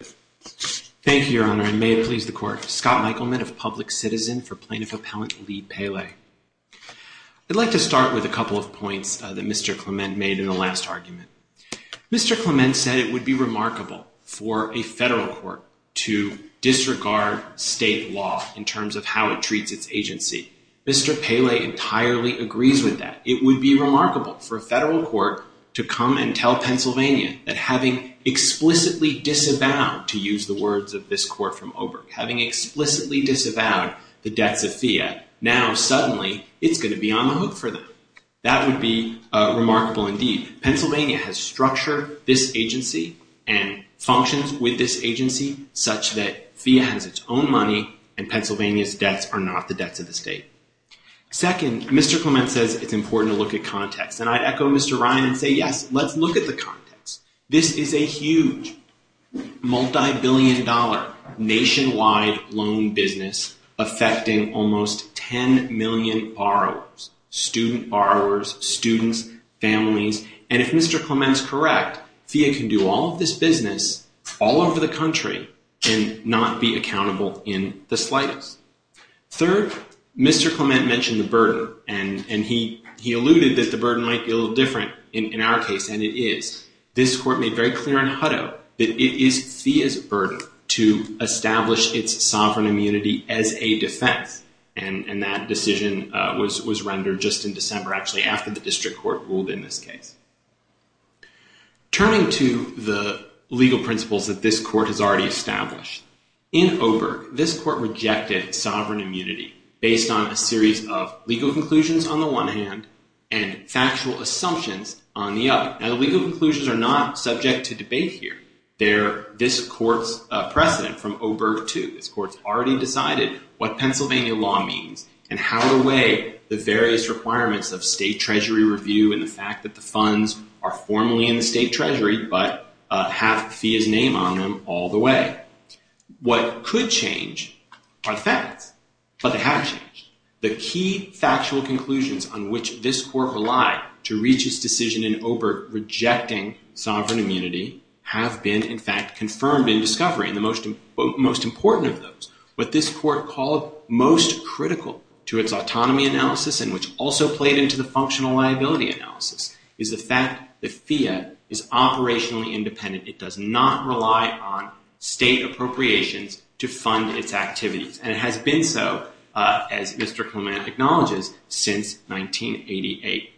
Thank you, Your Honor, and may it please the Court. Scott Michelman of Public Citizen for Plaintiff Appellant Lee Pele. I'd like to start with a couple of points that Mr. Clement made in the last argument. Mr. Clement said it would be remarkable for a federal court to disregard state law in terms of how it treats its agency. Mr. Pele entirely agrees with that. It would be remarkable for a federal court to come and tell Pennsylvania that having explicitly disavowed, to use the words of this Court from Oberg, having explicitly disavowed the debts of FIIA, now suddenly it's going to be on the hook for them. That would be remarkable indeed. Pennsylvania has structured this agency and functions with this agency such that FIIA has its own money and Pennsylvania's debts are not the debts of the state. Second, Mr. Clement says it's important to look at context. And I'd echo Mr. Ryan and say, yes, let's look at the context. This is a huge, multibillion-dollar, nationwide loan business affecting almost 10 million borrowers, student borrowers, students, families. And if Mr. Clement is correct, FIIA can do all of this business all over the country and not be accountable in the slightest. Third, Mr. Clement mentioned the burden. And he alluded that the burden might be a little different in our case, and it is. This Court made very clear in Hutto that it is FIIA's burden to establish its sovereign immunity as a defense. And that decision was rendered just in December, actually, after the district court ruled in this case. Turning to the legal principles that this Court has already established, in Oberg, this Court rejected sovereign immunity based on a series of legal conclusions on the one hand and factual assumptions on the other. Now, the legal conclusions are not subject to debate here. They're this Court's precedent from Oberg II. This Court's already decided what Pennsylvania law means and how to weigh the various requirements of state treasury review and the fact that the funds are formally in the state treasury but have FIIA's name on them all the way. What could change are the facts. But they have changed. The key factual conclusions on which this Court relied to reach its decision in Oberg rejecting sovereign immunity have been, in fact, confirmed in discovery. And the most important of those, what this Court called most critical to its autonomy analysis and which also played into the functional liability analysis, is the fact that FIIA is operationally independent. It does not rely on state appropriations to fund its activities. And it has been so, as Mr. Clement acknowledges, since 1988.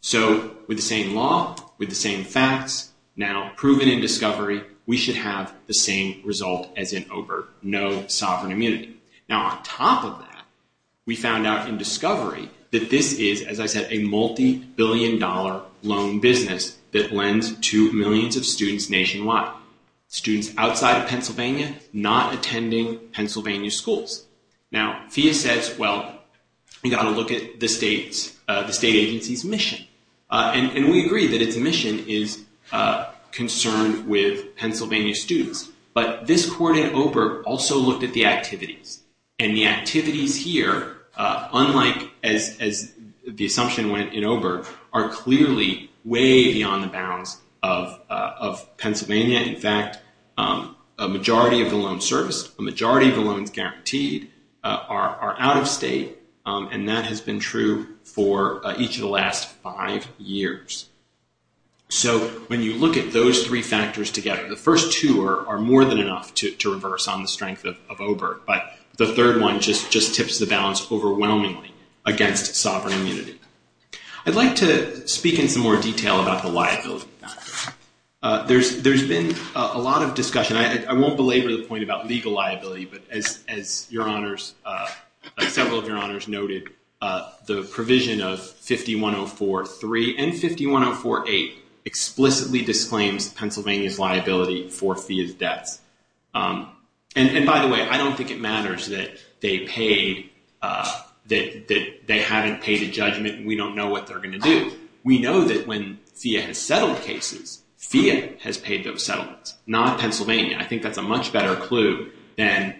So, with the same law, with the same facts, now proven in discovery, we should have the same result as in Oberg. No sovereign immunity. Now, on top of that, we found out in discovery that this is, as I said, a multi-billion dollar loan business that lends to millions of students nationwide. Students outside of Pennsylvania not attending Pennsylvania schools. Now, FIIA says, well, we've got to look at the state agency's mission. And we agree that its mission is concerned with Pennsylvania students. But this Court in Oberg also looked at the activities. And the activities here, unlike as the assumption went in Oberg, are clearly way beyond the bounds of Pennsylvania. In fact, a majority of the loans serviced, a majority of the loans guaranteed are out of state. And that has been true for each of the last five years. So, when you look at those three factors together, the first two are more than enough to reverse on the strength of Oberg. But the third one just tips the balance overwhelmingly against sovereign immunity. I'd like to speak in some more detail about the liability factor. There's been a lot of discussion. I won't belabor the point about legal liability, but as your Honors, several of your Honors noted, the provision of 5104.3 and 5104.8 explicitly disclaims Pennsylvania's liability for FIIA's debts. And by the way, I don't think it matters that they haven't paid a judgment. We don't know what they're going to do. We know that when FIIA has settled cases, FIIA has paid those settlements, not Pennsylvania. I think that's a much better clue than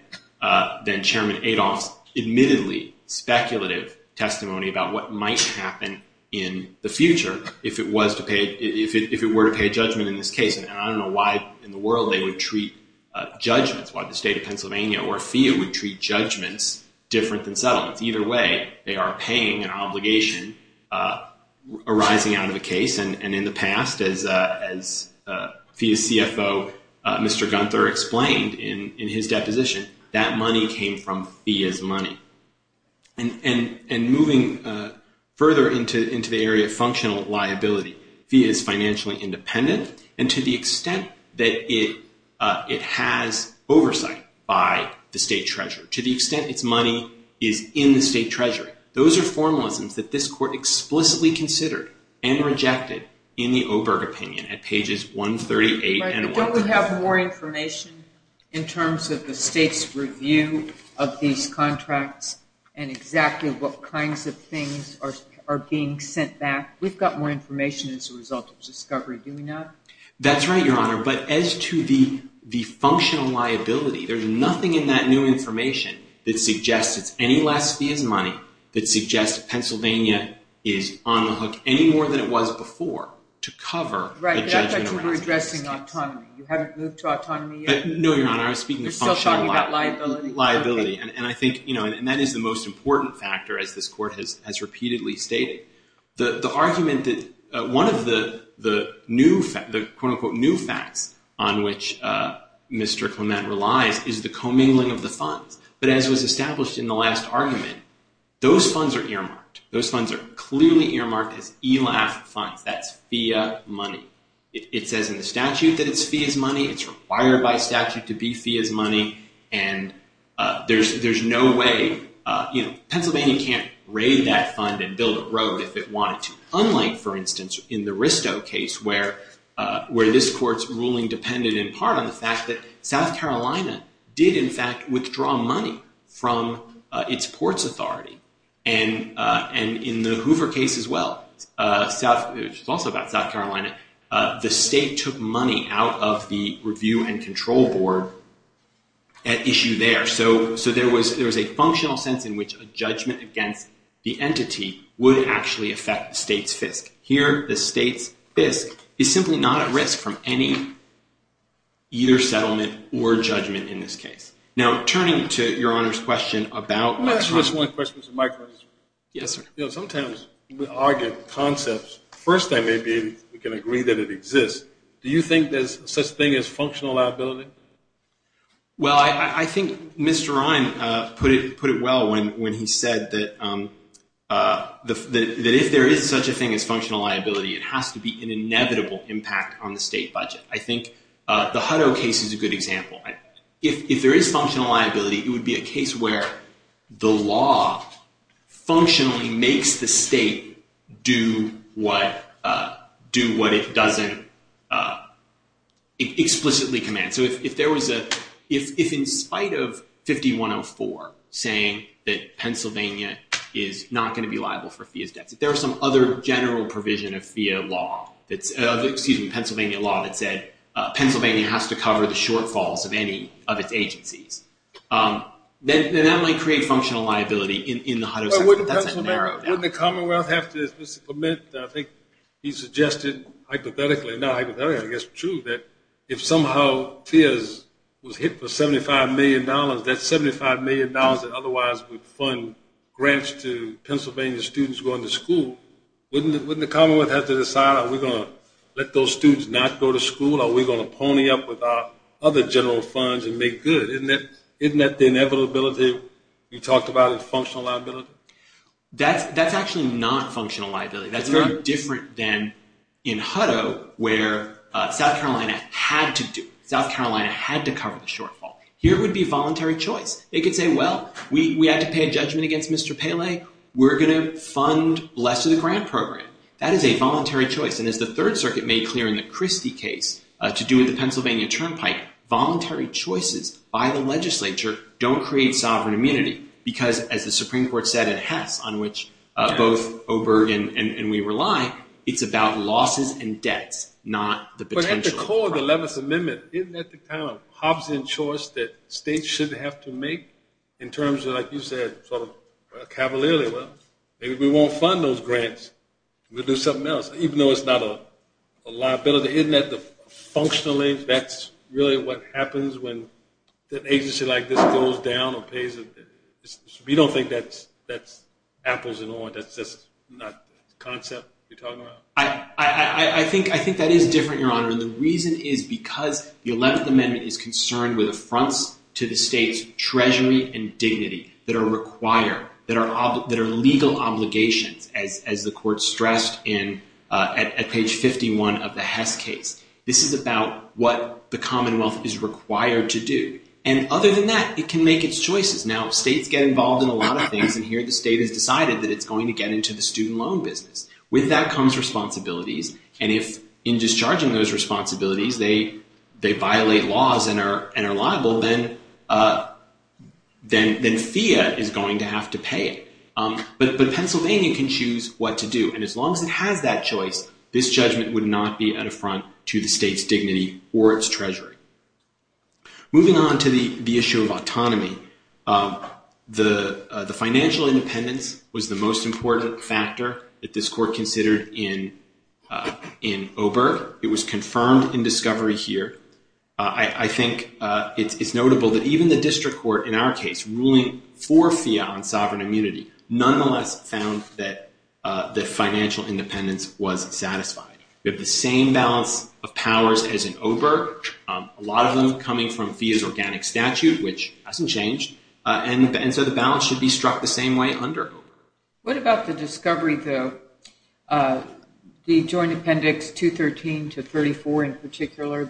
Chairman Adolph's admittedly speculative testimony about what might happen in the future if it were to pay a judgment in this case. And I don't know why in the world they would treat judgments, why the state of Pennsylvania or FIIA would treat judgments different than settlements. Either way, they are paying an obligation arising out of a case. And in the past, as FIIA's CFO, Mr. Gunther, explained in his deposition, that money came from FIIA's money. And moving further into the area of functional liability, FIIA is financially independent. And to the extent that it has oversight by the state treasurer, to the extent its money is in the state treasury, those are formalisms that this court explicitly considered and rejected in the Oberg opinion at pages 138 and 139. But don't we have more information in terms of the state's review of these contracts and exactly what kinds of things are being sent back? We've got more information as a result of this discovery, do we not? That's right, Your Honor. But as to the functional liability, there's nothing in that new information that suggests it's any less FIIA's money, that suggests Pennsylvania is on the hook any more than it was before to cover a judgment. I thought you were addressing autonomy. You haven't moved to autonomy yet? No, Your Honor. I was speaking of functional liability. You're still talking about liability. Liability. And I think, you know, and that is the most important factor, as this court has repeatedly stated. The argument that one of the quote-unquote new facts on which Mr. Clement relies is the commingling of the funds. But as was established in the last argument, those funds are earmarked. Those funds are clearly earmarked as ELAF funds. That's FIIA money. It says in the statute that it's FIIA's money. It's required by statute to be FIIA's money. And there's no way, you know, Pennsylvania can't raid that fund and build a road if it wanted to. Unlike, for instance, in the Risto case where this court's ruling depended in part on the fact that South Carolina did, in fact, withdraw money from its ports authority. And in the Hoover case as well, which is also about South Carolina, the state took money out of the review and control board at issue there. So there was a functional sense in which a judgment against the entity would actually affect the state's FISC. Here, the state's FISC is simply not at risk from any, either settlement or judgment in this case. Now, turning to Your Honor's question about- Can I ask you just one question, Mr. Mike? Yes, sir. You know, sometimes we argue concepts. First, I may be able to agree that it exists. Do you think there's such a thing as functional liability? Well, I think Mr. Ryan put it well when he said that if there is such a thing as functional liability, it has to be an inevitable impact on the state budget. I think the Hutto case is a good example. If there is functional liability, it would be a case where the law functionally makes the state do what it doesn't explicitly command. So if in spite of 5104 saying that Pennsylvania is not going to be liable for FEA's debts, if there's some other general provision of Pennsylvania law that said Pennsylvania has to cover the shortfalls of any of its agencies, then that might create functional liability in the Hutto case, but that's an arrow down. Wouldn't the commonwealth have to submit, I think he suggested hypothetically, and now hypothetically I guess it's true that if somehow FEA was hit for $75 million, that $75 million that otherwise would fund grants to Pennsylvania students going to school, wouldn't the commonwealth have to decide are we going to let those students not go to school? Are we going to pony up with our other general funds and make good? Isn't that the inevitability we talked about in functional liability? That's actually not functional liability. That's very different than in Hutto where South Carolina had to do it. South Carolina had to cover the shortfall. Here it would be voluntary choice. They could say, well, we have to pay a judgment against Mr. Pele. We're going to fund less of the grant program. That is a voluntary choice, and as the Third Circuit made clear in the Christie case to do with the Pennsylvania turnpike, voluntary choices by the legislature don't create sovereign immunity because, as the Supreme Court said in Hess, on which both Oberg and we rely, it's about losses and debts, not the potential. The core of the 11th Amendment, isn't that the kind of Hobbesian choice that states should have to make in terms of, like you said, sort of cavalierly? Well, maybe we won't fund those grants. We'll do something else, even though it's not a liability. Isn't that functionally that's really what happens when an agency like this goes down or pays? We don't think that's apples and oranges. That's not the concept you're talking about? I think that is different, Your Honor, and the reason is because the 11th Amendment is concerned with affronts to the state's treasury and dignity that are required, that are legal obligations, as the Court stressed at page 51 of the Hess case. This is about what the Commonwealth is required to do, and other than that, it can make its choices. Now, states get involved in a lot of things, and here the state has decided that it's going to get into the student loan business. With that comes responsibilities, and if in discharging those responsibilities they violate laws and are liable, then FEA is going to have to pay it. But Pennsylvania can choose what to do, and as long as it has that choice, this judgment would not be an affront to the state's dignity or its treasury. Moving on to the issue of autonomy, the financial independence was the most important factor that this Court considered in Oberg. It was confirmed in discovery here. I think it's notable that even the District Court, in our case, ruling for FEA on sovereign immunity, nonetheless found that financial independence was satisfied. We have the same balance of powers as in Oberg, a lot of them coming from FEA's organic statute, which hasn't changed, and so the balance should be struck the same way under Oberg. What about the discovery, though, the Joint Appendix 213 to 34 in particular,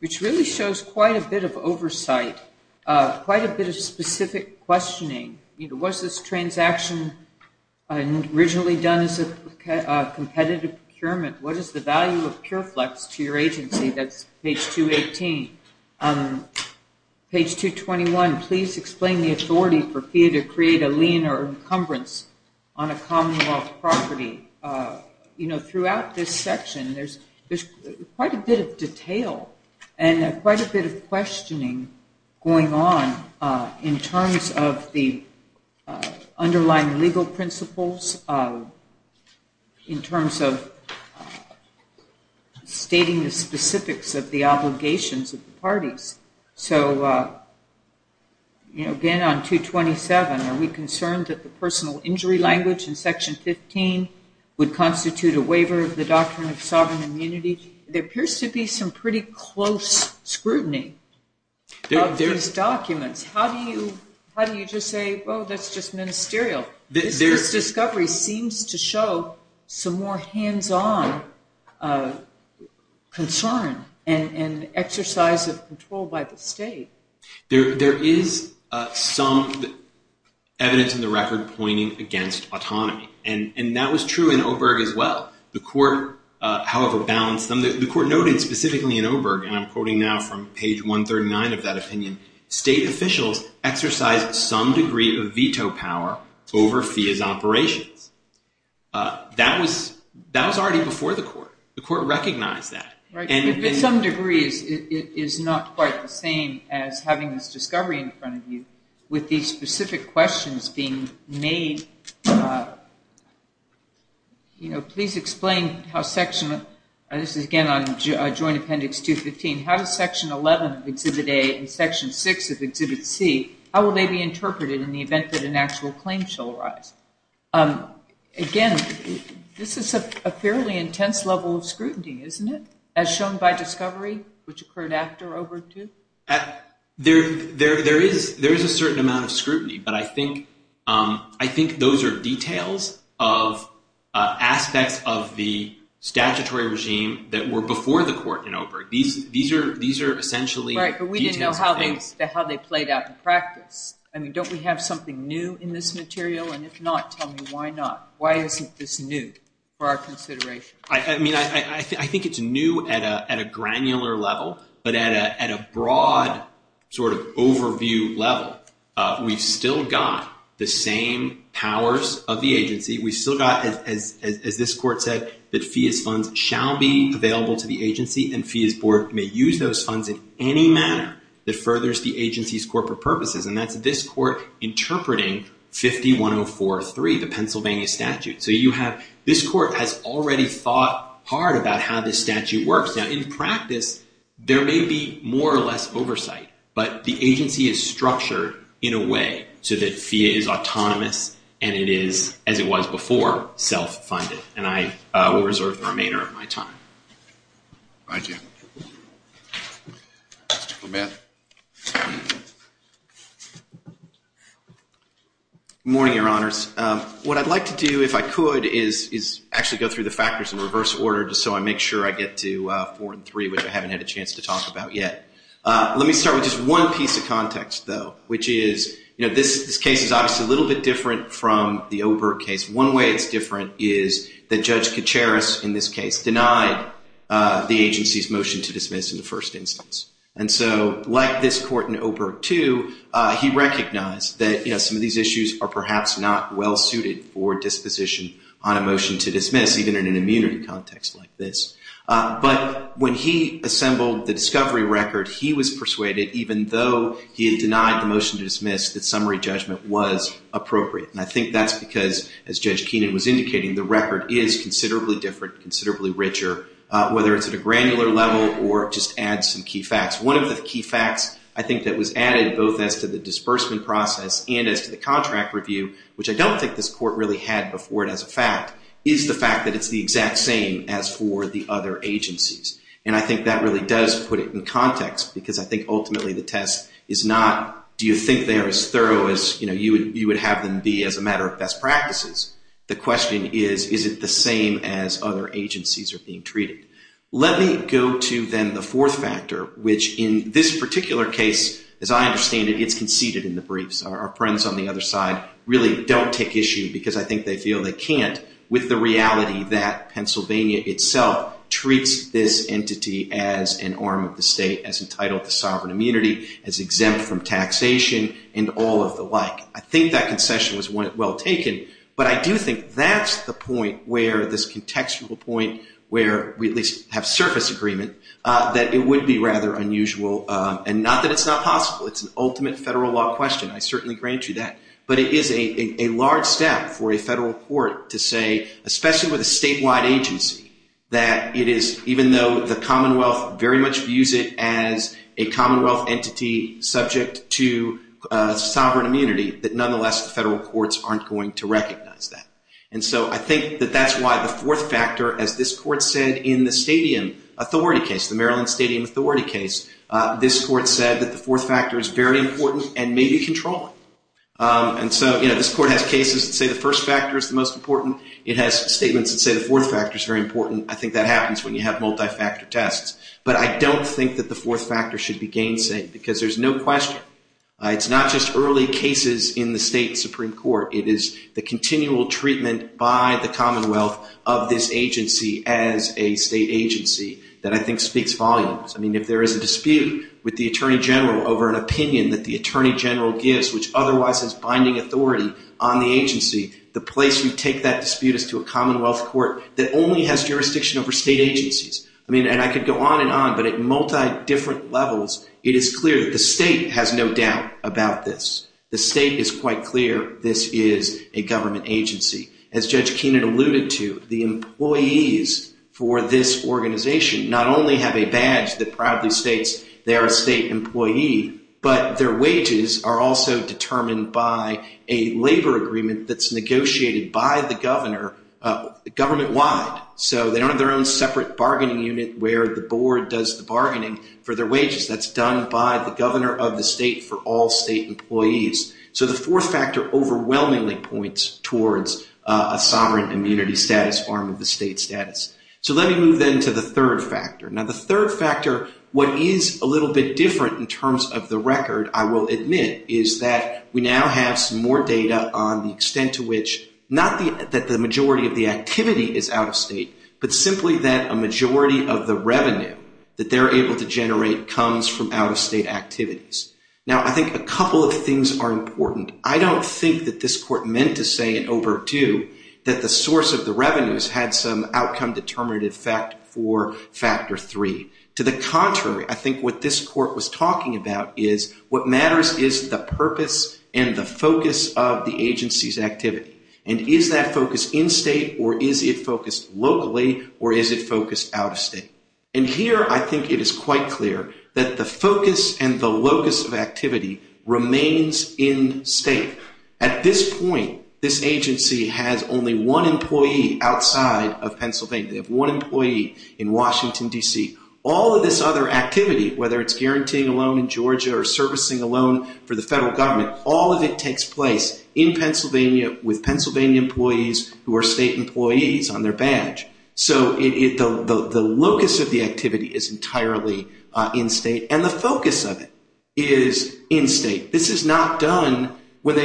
which really shows quite a bit of oversight, quite a bit of specific questioning. Was this transaction originally done as a competitive procurement? What is the value of Pure Flex to your agency? That's page 218. Page 221, please explain the authority for FEA to create a lien or encumbrance on a Commonwealth property. Throughout this section there's quite a bit of detail and quite a bit of questioning going on in terms of the underlying legal principles, in terms of stating the specifics of the obligations of the parties. So, again on 227, are we concerned that the personal injury language in Section 15 would constitute a waiver of the doctrine of sovereign immunity? There appears to be some pretty close scrutiny of these documents. How do you just say, well, that's just ministerial? This discovery seems to show some more hands-on concern and exercise of control by the state. There is some evidence in the record pointing against autonomy, and that was true in Oberg as well. The court, however, balanced them. The court noted specifically in Oberg, and I'm quoting now from page 139 of that opinion, state officials exercise some degree of veto power over FEA's operations. That was already before the court. The court recognized that. To some degree it is not quite the same as having this discovery in front of you with these specific questions being made. Please explain how Section, this is again on Joint Appendix 215, how does Section 11 of Exhibit A and Section 6 of Exhibit C, how will they be interpreted in the event that an actual claim shall arise? Again, this is a fairly intense level of scrutiny, isn't it, as shown by discovery, which occurred after Oberg II? There is a certain amount of scrutiny, but I think those are details of aspects of the statutory regime that were before the court in Oberg. These are essentially details of things. Right, but we didn't know how they played out in practice. I mean, don't we have something new in this material? And if not, tell me why not. Why isn't this new for our consideration? I mean, I think it's new at a granular level, but at a broad sort of overview level, we've still got the same powers of the agency. We've still got, as this court said, that fees funds shall be available to the agency, and fees board may use those funds in any manner that furthers the agency's corporate purposes, and that's this court interpreting 51043, the Pennsylvania statute. So this court has already thought hard about how this statute works. Now, in practice, there may be more or less oversight, but the agency is structured in a way so that fee is autonomous and it is, as it was before, self-funded. And I will reserve the remainder of my time. Thank you. Mr. Clement. Good morning, Your Honors. What I'd like to do, if I could, is actually go through the factors in reverse order just so I make sure I get to 4 and 3, which I haven't had a chance to talk about yet. Let me start with just one piece of context, though, which is this case is obviously a little bit different from the Oberg case. One way it's different is that Judge Kacharis, in this case, denied the agency's motion to dismiss in the first instance. And so, like this court in Oberg 2, he recognized that some of these issues are perhaps not well suited for disposition on a motion to dismiss, even in an immunity context like this. But when he assembled the discovery record, he was persuaded, even though he had denied the motion to dismiss, that summary judgment was appropriate. And I think that's because, as Judge Keenan was indicating, the record is considerably different, considerably richer, whether it's at a granular level or just adds some key facts. One of the key facts, I think, that was added, both as to the disbursement process and as to the contract review, which I don't think this court really had before it as a fact, is the fact that it's the exact same as for the other agencies. And I think that really does put it in context because I think, ultimately, the test is not, do you think they are as thorough as you would have them be as a matter of best practices? The question is, is it the same as other agencies are being treated? Let me go to, then, the fourth factor, which in this particular case, as I understand it, it's conceded in the briefs. Our friends on the other side really don't take issue, because I think they feel they can't, with the reality that Pennsylvania itself treats this entity as an arm of the state, as entitled to sovereign immunity, as exempt from taxation, and all of the like. I think that concession was well taken, but I do think that's the point where this contextual point, where we at least have surface agreement, that it would be rather unusual, and not that it's not possible. It's an ultimate federal law question. I certainly grant you that. But it is a large step for a federal court to say, especially with a statewide agency, that it is, even though the Commonwealth very much views it as a Commonwealth entity subject to that, nonetheless, the federal courts aren't going to recognize that. And so I think that that's why the fourth factor, as this court said in the stadium authority case, the Maryland Stadium Authority case, this court said that the fourth factor is very important and may be controlling. And so, you know, this court has cases that say the first factor is the most important. It has statements that say the fourth factor is very important. I think that happens when you have multi-factor tests. But I don't think that the fourth factor should be gainsay, because there's no question. It's not just early cases in the state Supreme Court. It is the continual treatment by the Commonwealth of this agency as a state agency that I think speaks volumes. I mean, if there is a dispute with the Attorney General over an opinion that the Attorney General gives, which otherwise is binding authority on the agency, the place you take that dispute is to a Commonwealth court that only has jurisdiction over state agencies. I mean, and I could go on and on, but at multi-different levels, it is clear that the state has no doubt about this. The state is quite clear this is a government agency. As Judge Keenan alluded to, the employees for this organization not only have a badge that proudly states they're a state employee, but their wages are also determined by a labor agreement that's negotiated by the governor government-wide. So they don't have their own separate bargaining unit where the board does the bargaining for their wages. That's done by the governor of the state for all state employees. So the fourth factor overwhelmingly points towards a sovereign immunity status, farm of the state status. So let me move then to the third factor. Now, the third factor, what is a little bit different in terms of the record, I will admit, is that we now have some more data on the extent to which not that the majority of the activity is out-of-state, but simply that a majority of the revenue that they're able to generate comes from out-of-state activities. Now, I think a couple of things are important. I don't think that this court meant to say in overdue that the source of the revenues had some outcome determinative factor for factor three. To the contrary, I think what this court was talking about is what matters is the purpose and the focus of the agency's activity. And is that focus in-state, or is it focused locally, or is it focused out-of-state? And here I think it is quite clear that the focus and the locus of activity remains in-state. At this point, this agency has only one employee outside of Pennsylvania. They have one employee in Washington, D.C. All of this other activity, whether it's guaranteeing a loan in Georgia or servicing a loan for the federal government, all of it takes place in Pennsylvania with Pennsylvania employees who are state employees on their badge. So the locus of the activity is entirely in-state, and the focus of it is in-state. This is not done when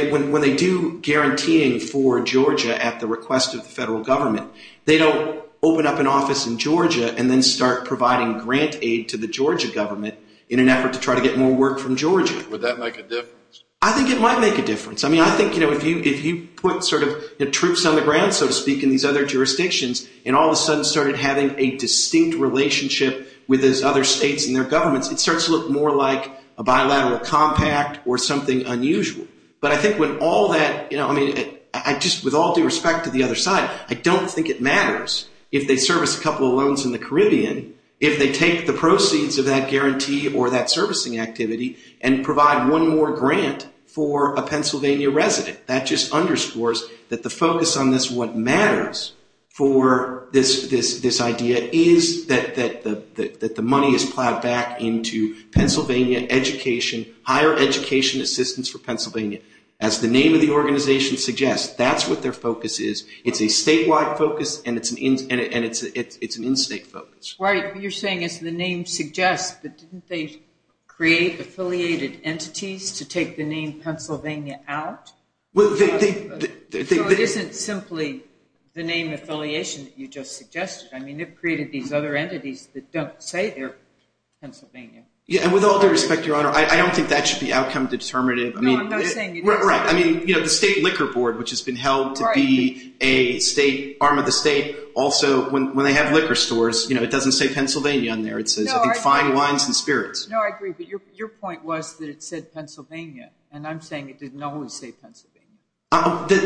they do guaranteeing for Georgia at the request of the federal government. They don't open up an office in Georgia and then start providing grant aid to the Georgia government in an effort to try to get more work from Georgia. Would that make a difference? I think it might make a difference. I mean, I think, you know, if you put sort of troops on the ground, so to speak, in these other jurisdictions, and all of a sudden started having a distinct relationship with those other states and their governments, it starts to look more like a bilateral compact or something unusual. But I think when all that, you know, I mean, I just, with all due respect to the other side, I don't think it matters if they service a couple of loans in the Caribbean if they take the proceeds of that guarantee or that servicing activity and provide one more grant for a Pennsylvania resident. That just underscores that the focus on this, what matters for this idea, is that the money is plowed back into Pennsylvania education, higher education assistance for Pennsylvania. As the name of the organization suggests, that's what their focus is. It's a statewide focus and it's an in-state focus. You're saying as the name suggests, but didn't they create affiliated entities to take the name Pennsylvania out? So it isn't simply the name affiliation that you just suggested. I mean, they've created these other entities that don't say they're Pennsylvania. Yeah, and with all due respect, Your Honor, I don't think that should be outcome determinative. No, I'm not saying it doesn't. Right, I mean, you know, the State Liquor Board, which has been held to be a state, arm of the state, also when they have liquor stores, you know, it doesn't say Pennsylvania on there. It says, I think, fine wines and spirits. No, I agree, but your point was that it said Pennsylvania, and I'm saying it didn't always say Pennsylvania.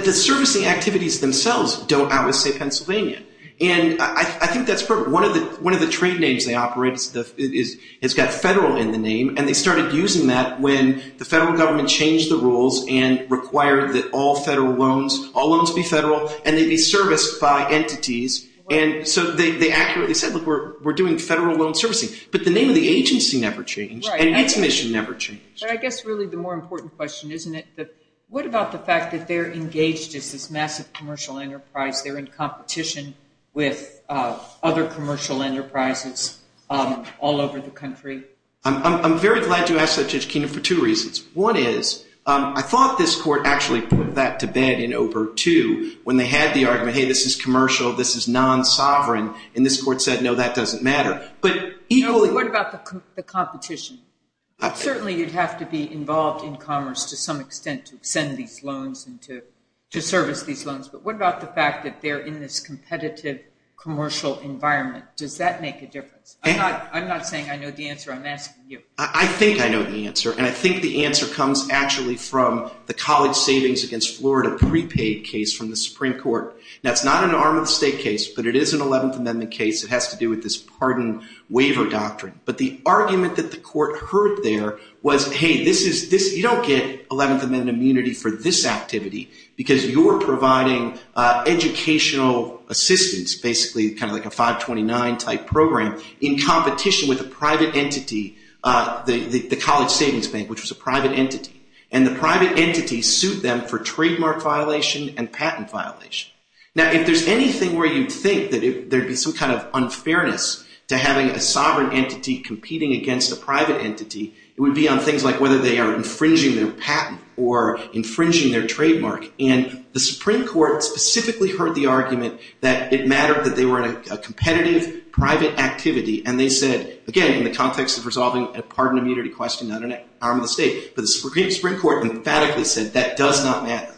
The servicing activities themselves don't always say Pennsylvania. And I think that's part of it. One of the trade names they operate has got federal in the name, and they started using that when the federal government changed the rules and required that all federal loans, all loans be federal, and they'd be serviced by entities. And so they accurately said, look, we're doing federal loan servicing. But the name of the agency never changed, and its mission never changed. But I guess really the more important question, isn't it, what about the fact that they're engaged as this massive commercial enterprise? They're in competition with other commercial enterprises all over the country. I'm very glad you asked that, Judge Kena, for two reasons. One is, I thought this court actually put that to bed in OBRT 2 when they had the argument, hey, this is commercial, this is non-sovereign, and this court said, no, that doesn't matter. But equally. What about the competition? Certainly you'd have to be involved in commerce to some extent to send these loans and to service these loans. But what about the fact that they're in this competitive commercial environment? Does that make a difference? I'm not saying I know the answer. I'm asking you. I think I know the answer, and I think the answer comes actually from the college savings against Florida prepaid case from the Supreme Court. That's not an Arm of the State case, but it is an 11th Amendment case. It has to do with this pardon waiver doctrine. But the argument that the court heard there was, hey, you don't get 11th Amendment immunity for this activity because you're providing educational assistance, basically kind of like a 529-type program, in competition with a private entity, the college savings bank, which was a private entity. And the private entity sued them for trademark violation and patent violation. Now, if there's anything where you'd think that there'd be some kind of unfairness to having a sovereign entity competing against a private entity, it would be on things like whether they are infringing their patent or infringing their trademark. And the Supreme Court specifically heard the argument that it mattered that they were in a competitive private activity. And they said, again, in the context of resolving a pardon immunity question not an Arm of the State, but the Supreme Court emphatically said that does not matter.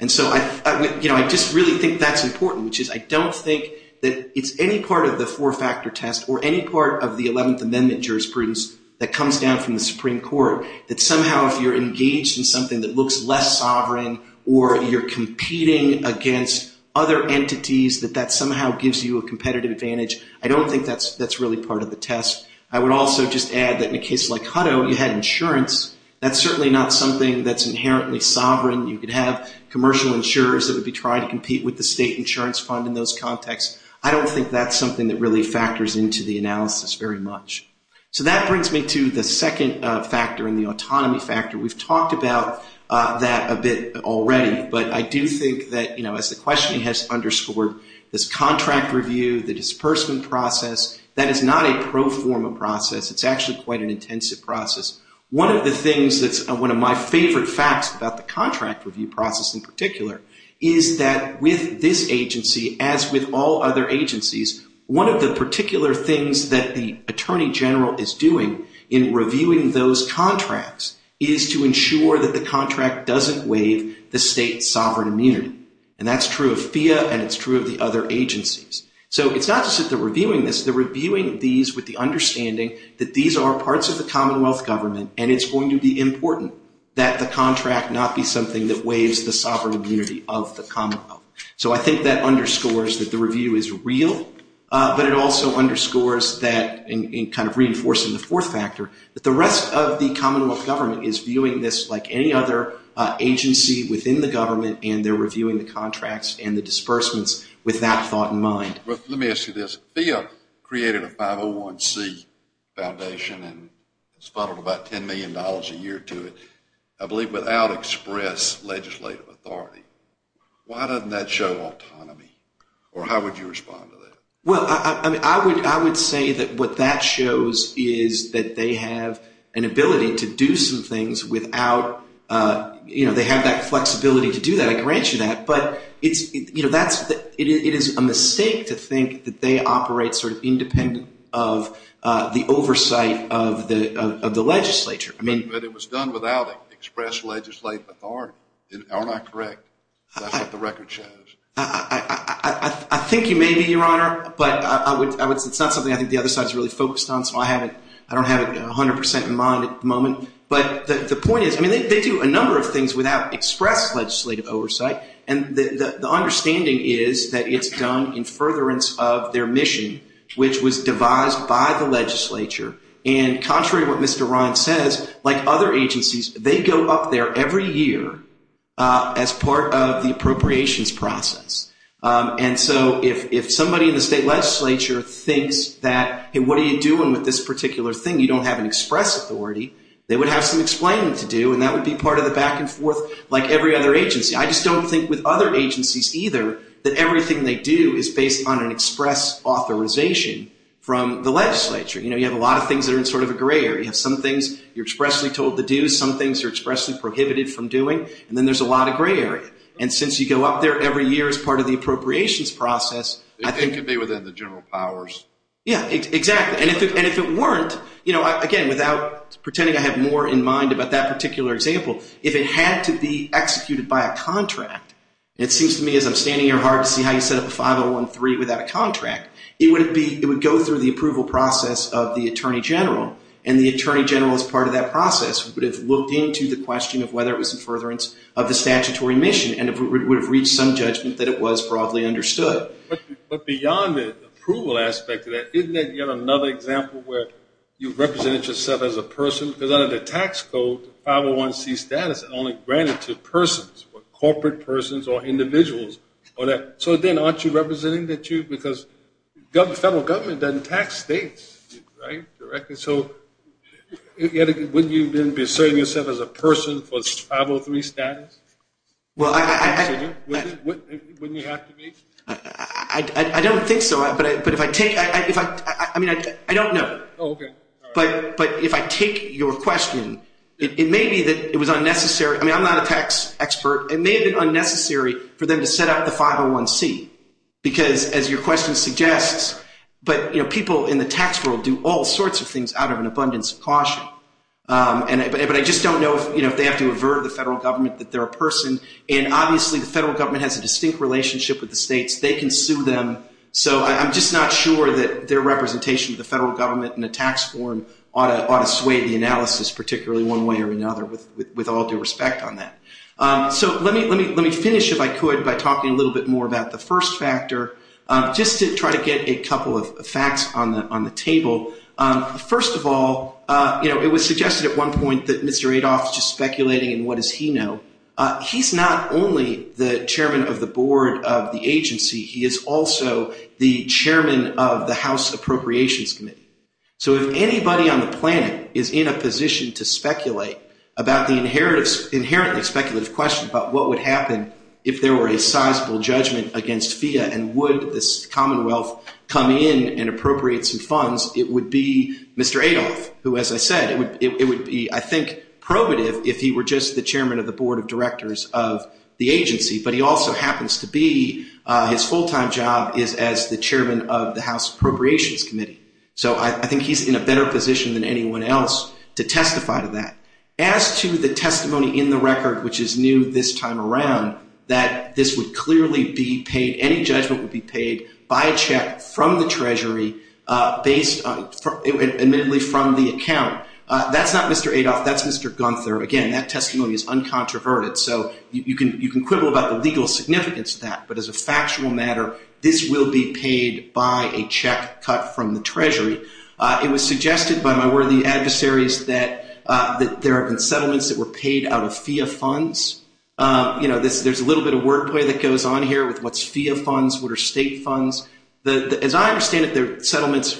And so I just really think that's important, which is I don't think that it's any part of the four-factor test or any part of the 11th Amendment jurisprudence that comes down from the Supreme Court that somehow if you're engaged in something that looks less sovereign or you're competing against other entities, that that somehow gives you a competitive advantage. I don't think that's really part of the test. I would also just add that in a case like Hutto, you had insurance. That's certainly not something that's inherently sovereign. You could have commercial insurers that would be trying to compete with the state insurance fund in those contexts. I don't think that's something that really factors into the analysis very much. So that brings me to the second factor in the autonomy factor. We've talked about that a bit already, but I do think that, you know, as the question has underscored, this contract review, the disbursement process, that is not a pro forma process. It's actually quite an intensive process. One of the things that's one of my favorite facts about the contract review process in particular is that with this agency, as with all other agencies, one of the particular things that the Attorney General is doing in reviewing those contracts is to ensure that the contract doesn't waive the state's sovereign immunity. And that's true of FEA and it's true of the other agencies. So it's not just that they're reviewing this, they're reviewing these with the understanding that these are parts of the Commonwealth government and it's going to be important that the contract not be something that waives the sovereign immunity of the Commonwealth. So I think that underscores that the review is real, but it also underscores that in kind of reinforcing the fourth factor, that the rest of the Commonwealth government is viewing this like any other agency within the government and they're reviewing the contracts and the disbursements with that thought in mind. Let me ask you this. If FEA created a 501C foundation and it's funneled about $10 million a year to it, I believe without express legislative authority, why doesn't that show autonomy? Or how would you respond to that? Well, I would say that what that shows is that they have an ability to do some things without, you know, they have that flexibility to do that. But it is a mistake to think that they operate sort of independent of the oversight of the legislature. But it was done without express legislative authority, am I correct? That's what the record shows. I think you may be, Your Honor, but it's not something I think the other side is really focused on, so I don't have it 100% in mind at the moment. But the point is, I mean, they do a number of things without express legislative oversight, and the understanding is that it's done in furtherance of their mission, which was devised by the legislature. And contrary to what Mr. Ryan says, like other agencies, they go up there every year as part of the appropriations process. And so if somebody in the state legislature thinks that, hey, what are you doing with this particular thing? You don't have an express authority, they would have some explaining to do, and that would be part of the back-and-forth like every other agency. I just don't think with other agencies, either, that everything they do is based on an express authorization from the legislature. You know, you have a lot of things that are in sort of a gray area. You have some things you're expressly told to do, some things you're expressly prohibited from doing, and then there's a lot of gray area. And since you go up there every year as part of the appropriations process, I think— It could be within the general powers. Yeah, exactly. And if it weren't, you know, again, without pretending I have more in mind about that particular example, if it had to be executed by a contract, it seems to me as I'm standing here hard to see how you set up a 5013 without a contract, it would go through the approval process of the attorney general, and the attorney general as part of that process would have looked into the question of whether it was in furtherance of the statutory mission and would have reached some judgment that it was broadly understood. But beyond the approval aspect of that, isn't there yet another example where you represented yourself as a person? Because under the tax code, 501C status is only granted to persons, corporate persons or individuals. So then aren't you representing that you—because the federal government doesn't tax states, right? So wouldn't you then be asserting yourself as a person for 503 status? Well, I— Wouldn't you have to be? I don't think so. But if I take—I mean, I don't know. Oh, okay. But if I take your question, it may be that it was unnecessary. I mean, I'm not a tax expert. It may have been unnecessary for them to set up the 501C because, as your question suggests, but, you know, people in the tax world do all sorts of things out of an abundance of caution. But I just don't know if they have to avert the federal government that they're a person. And obviously the federal government has a distinct relationship with the states. They can sue them. So I'm just not sure that their representation of the federal government in a tax form ought to sway the analysis, particularly one way or another, with all due respect on that. So let me finish, if I could, by talking a little bit more about the first factor, just to try to get a couple of facts on the table. First of all, you know, it was suggested at one point that Mr. Adolph is just speculating, and what does he know? He's not only the chairman of the board of the agency. He is also the chairman of the House Appropriations Committee. So if anybody on the planet is in a position to speculate about the inherently speculative question about what would happen if there were a sizable judgment against FEA and would the Commonwealth come in and appropriate some funds, it would be Mr. Adolph, who, as I said, it would be, I think, probative if he were just the chairman of the board of directors of the agency. But he also happens to be, his full-time job is as the chairman of the House Appropriations Committee. So I think he's in a better position than anyone else to testify to that. As to the testimony in the record, which is new this time around, that this would clearly be paid, any judgment would be paid by a check from the Treasury based, admittedly, from the account. That's not Mr. Adolph. That's Mr. Gunther. Again, that testimony is uncontroverted, so you can quibble about the legal significance of that. But as a factual matter, this will be paid by a check cut from the Treasury. It was suggested by my worthy adversaries that there have been settlements that were paid out of FEA funds. You know, there's a little bit of wordplay that goes on here with what's FEA funds, what are state funds. As I understand it, there are settlements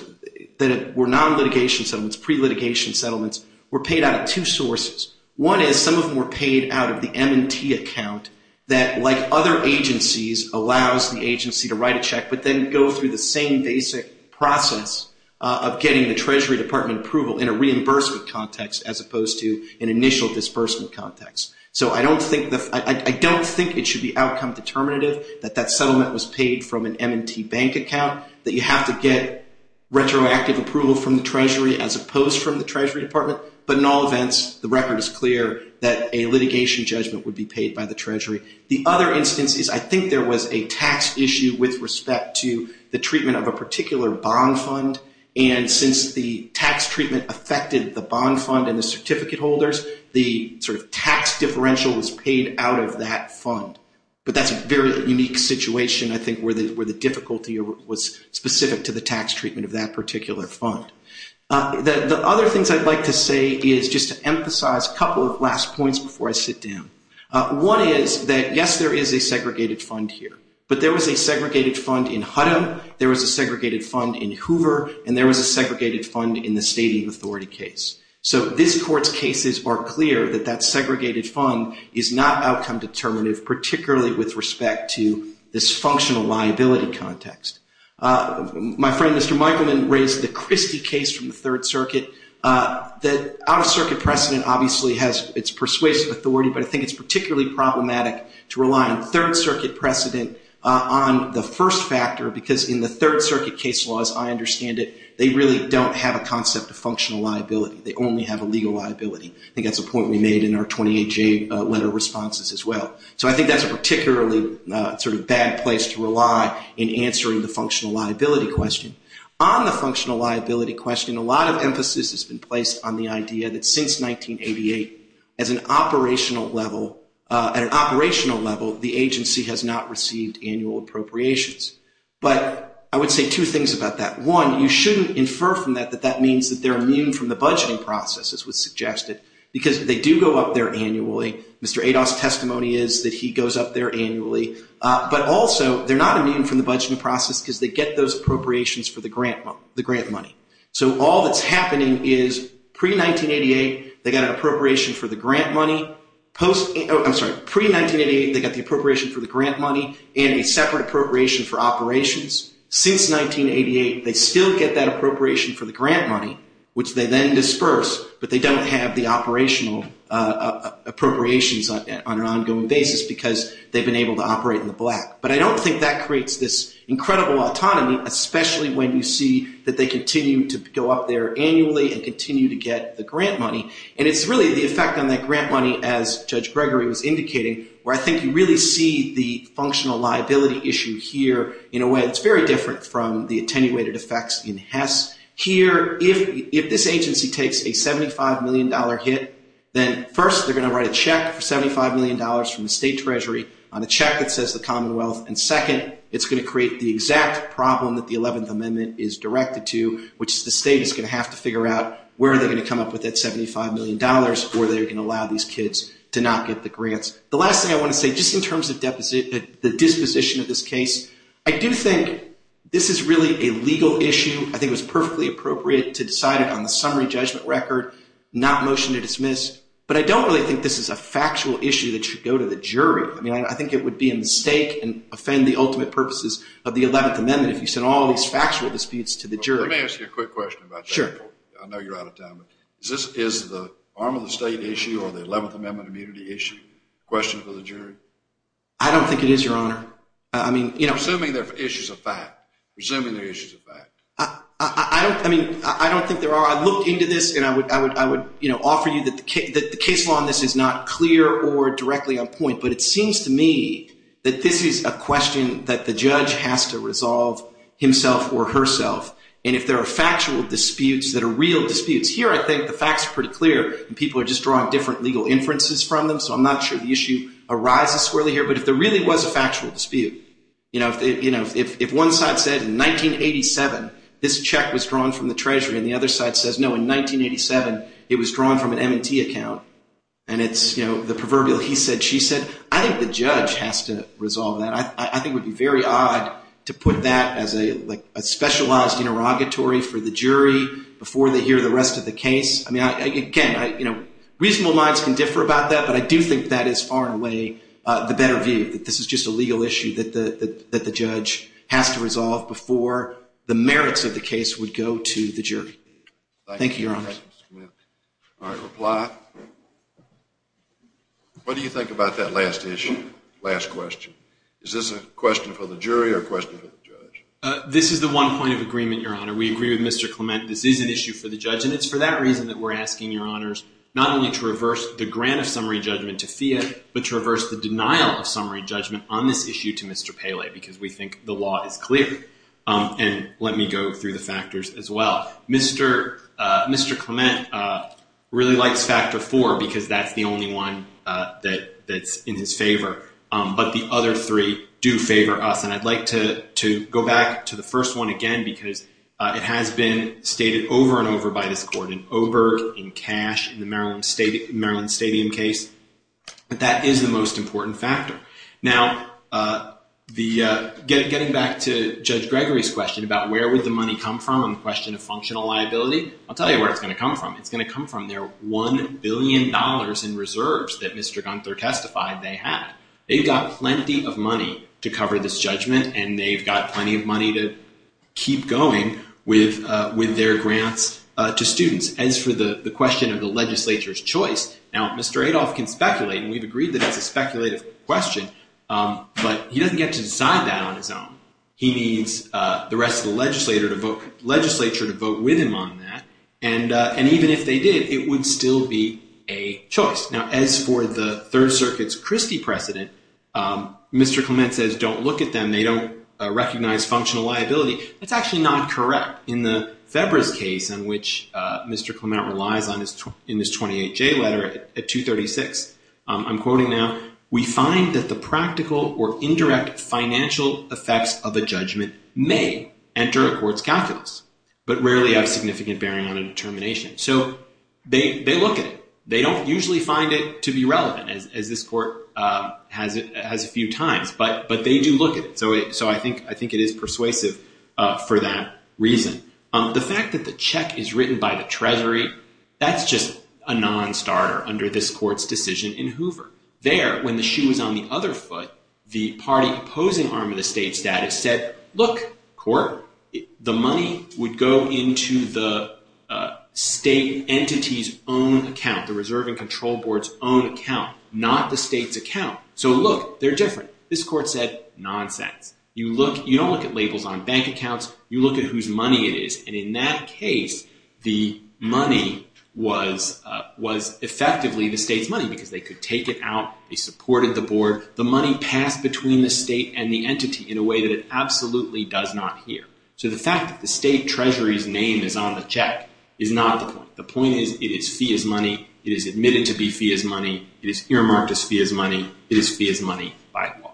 that were non-litigation settlements, pre-litigation settlements, were paid out of two sources. One is some of them were paid out of the M&T account that, like other agencies, allows the agency to write a check but then go through the same basic process of getting the Treasury Department approval in a reimbursement context as opposed to an initial disbursement context. So I don't think it should be outcome determinative that that settlement was paid from an M&T bank account, that you have to get retroactive approval from the Treasury as opposed from the Treasury Department. But in all events, the record is clear that a litigation judgment would be paid by the Treasury. The other instance is I think there was a tax issue with respect to the treatment of a particular bond fund. And since the tax treatment affected the bond fund and the certificate holders, the sort of tax differential was paid out of that fund. But that's a very unique situation, I think, where the difficulty was specific to the tax treatment of that particular fund. The other things I'd like to say is just to emphasize a couple of last points before I sit down. One is that, yes, there is a segregated fund here. But there was a segregated fund in Huddam, there was a segregated fund in Hoover, and there was a segregated fund in the Stadium Authority case. So this Court's cases are clear that that segregated fund is not outcome determinative, particularly with respect to this functional liability context. My friend, Mr. Michelman, raised the Christie case from the Third Circuit. The Out-of-Circuit precedent obviously has its persuasive authority, but I think it's particularly problematic to rely on Third Circuit precedent on the first factor because in the Third Circuit case laws, I understand it, they really don't have a concept of functional liability. They only have a legal liability. I think that's a point we made in our 28-J letter responses as well. So I think that's a particularly sort of bad place to rely in answering the functional liability question. On the functional liability question, a lot of emphasis has been placed on the idea that since 1988, at an operational level, the agency has not received annual appropriations. But I would say two things about that. One, you shouldn't infer from that that that means that they're immune from the budgeting process, as was suggested, because they do go up there annually. Mr. Adoff's testimony is that he goes up there annually. But also, they're not immune from the budgeting process because they get those appropriations for the grant money. So all that's happening is pre-1988, they got an appropriation for the grant money. I'm sorry, pre-1988, they got the appropriation for the grant money and a separate appropriation for operations. Since 1988, they still get that appropriation for the grant money, which they then disperse, but they don't have the operational appropriations on an ongoing basis because they've been able to operate in the black. But I don't think that creates this incredible autonomy, especially when you see that they continue to go up there annually and continue to get the grant money. And it's really the effect on that grant money, as Judge Gregory was indicating, where I think you really see the functional liability issue here in a way that's very different from the attenuated effects in Hess. Here, if this agency takes a $75 million hit, then first they're going to write a check for $75 million from the state treasury on a check that says the Commonwealth, and second, it's going to create the exact problem that the 11th Amendment is directed to, which is the state is going to have to figure out where they're going to come up with that $75 million or they're going to allow these kids to not get the grants. The last thing I want to say, just in terms of the disposition of this case, I do think this is really a legal issue. I think it was perfectly appropriate to decide it on the summary judgment record, not motion to dismiss. But I don't really think this is a factual issue that should go to the jury. I mean, I think it would be a mistake and offend the ultimate purposes of the 11th Amendment if you sent all these factual disputes to the jury. Let me ask you a quick question about that. Sure. I know you're out of time, but is the arm of the state issue or the 11th Amendment immunity issue a question for the jury? I don't think it is, Your Honor. Presuming they're issues of fact. Presuming they're issues of fact. I don't think there are. I looked into this, and I would offer you that the case law on this is not clear or directly on point, but it seems to me that this is a question that the judge has to resolve himself or herself. And if there are factual disputes that are real disputes, here I think the facts are pretty clear, and people are just drawing different legal inferences from them, so I'm not sure the issue arises squarely here. But if there really was a factual dispute, you know, if one side said in 1987 this check was drawn from the Treasury and the other side says, no, in 1987 it was drawn from an M&T account, and it's, you know, the proverbial he said, she said, I think the judge has to resolve that. I think it would be very odd to put that as a specialized interrogatory for the jury before they hear the rest of the case. I mean, again, you know, reasonable minds can differ about that, but I do think that is far and away the better view, that this is just a legal issue that the judge has to resolve before the merits of the case would go to the jury. Thank you, Your Honor. All right, reply. What do you think about that last issue, last question? Is this a question for the jury or a question for the judge? This is the one point of agreement, Your Honor. We agree with Mr. Clement. This is an issue for the judge, and it's for that reason that we're asking, Your Honors, not only to reverse the grant of summary judgment to Fiat, but to reverse the denial of summary judgment on this issue to Mr. Pele, because we think the law is clear, and let me go through the factors as well. Mr. Clement really likes factor four because that's the only one that's in his favor, but the other three do favor us, and I'd like to go back to the first one again because it has been stated over and over by this court in Oberg, in Cash, in the Maryland Stadium case, but that is the most important factor. Now, getting back to Judge Gregory's question about where would the money come from on the question of functional liability, I'll tell you where it's going to come from. It's going to come from their $1 billion in reserves that Mr. Gunther testified they had. They've got plenty of money to cover this judgment, and they've got plenty of money to keep going with their grants to students. As for the question of the legislature's choice, now, Mr. Adolph can speculate, and we've agreed that that's a speculative question, but he doesn't get to decide that on his own. He needs the rest of the legislature to vote with him on that, and even if they did, it would still be a choice. Now, as for the Third Circuit's Christie precedent, Mr. Clement says don't look at them. They don't recognize functional liability. That's actually not correct. In the Febris case in which Mr. Clement relies on in his 28-J letter at 236, I'm quoting now, we find that the practical or indirect financial effects of a judgment may enter a court's calculus, but rarely have significant bearing on a determination. So, they look at it. They don't usually find it to be relevant, as this court has a few times, but they do look at it. So, I think it is persuasive for that reason. The fact that the check is written by the Treasury, that's just a non-starter under this court's decision in Hoover. There, when the shoe was on the other foot, the party opposing arm of the state status said, look, court, the money would go into the state entity's own account, the Reserve and Control Board's own account, not the state's account. So, look, they're different. This court said, nonsense. You don't look at labels on bank accounts. You look at whose money it is, and in that case, the money was effectively the state's money because they could take it out. They supported the board. The money passed between the state and the entity in a way that it absolutely does not hear. So, the fact that the state Treasury's name is on the check is not the point. The point is, it is fee as money. It is admitted to be fee as money. It is earmarked as fee as money. It is fee as money by law.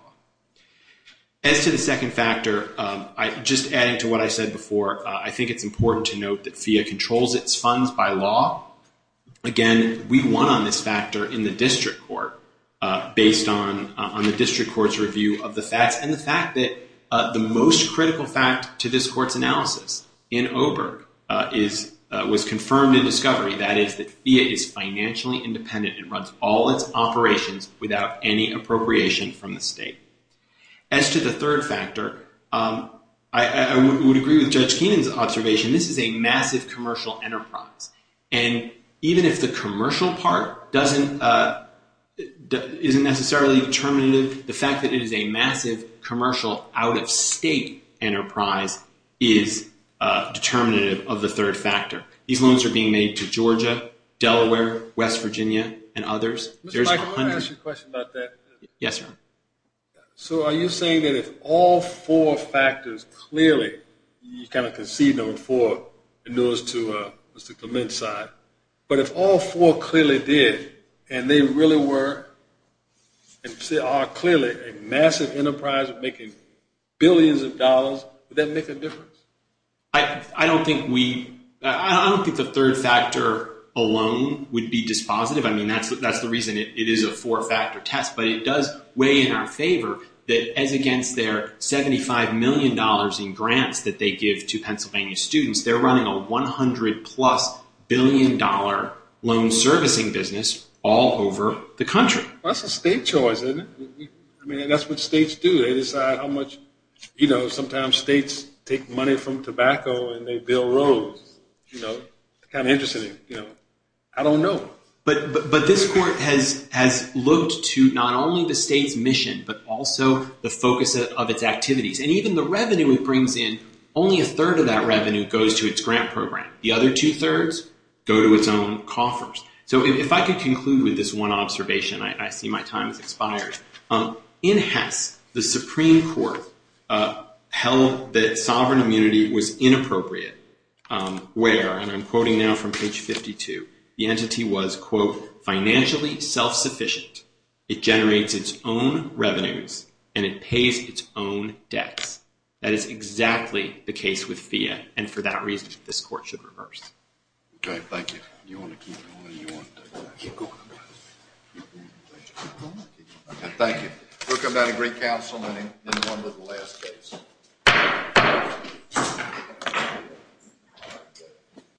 As to the second factor, just adding to what I said before, I think it's important to note that FEA controls its funds by law. Again, we won on this factor in the district court based on the district court's review of the facts and the fact that the most critical fact to this court's analysis in Oberg was confirmed in discovery. That is that FEA is financially independent. It runs all its operations without any appropriation from the state. As to the third factor, I would agree with Judge Keenan's observation. This is a massive commercial enterprise, and even if the commercial part isn't necessarily determinative, the fact that it is a massive commercial out-of-state enterprise is determinative of the third factor. These loans are being made to Georgia, Delaware, West Virginia, and others. Mr. Michael, I want to ask you a question about that. Yes, sir. So are you saying that if all four factors clearly, you kind of conceded on four, and those to Mr. Clement's side, but if all four clearly did, and they really were and still are clearly a massive enterprise of making billions of dollars, would that make a difference? I don't think the third factor alone would be dispositive. I mean, that's the reason it is a four-factor test. But it does weigh in our favor that as against their $75 million in grants that they give to Pennsylvania students, they're running a $100-plus billion loan servicing business all over the country. That's a state choice, isn't it? I mean, that's what states do. They decide how much. You know, sometimes states take money from tobacco and they bill roads. They're kind of interested in it. I don't know. But this Court has looked to not only the state's mission, but also the focus of its activities. And even the revenue it brings in, only a third of that revenue goes to its grant program. The other two-thirds go to its own coffers. So if I could conclude with this one observation, I see my time has expired. In Hess, the Supreme Court held that sovereign immunity was inappropriate where, and I'm quoting now from page 52, the entity was, quote, financially self-sufficient, it generates its own revenues, and it pays its own debts. That is exactly the case with FIA, and for that reason, this Court should reverse. Okay, thank you. Do you want to keep going, or do you want to keep going? Keep going. Thank you. We'll come down to Greek Council in one of the last days. Thank you.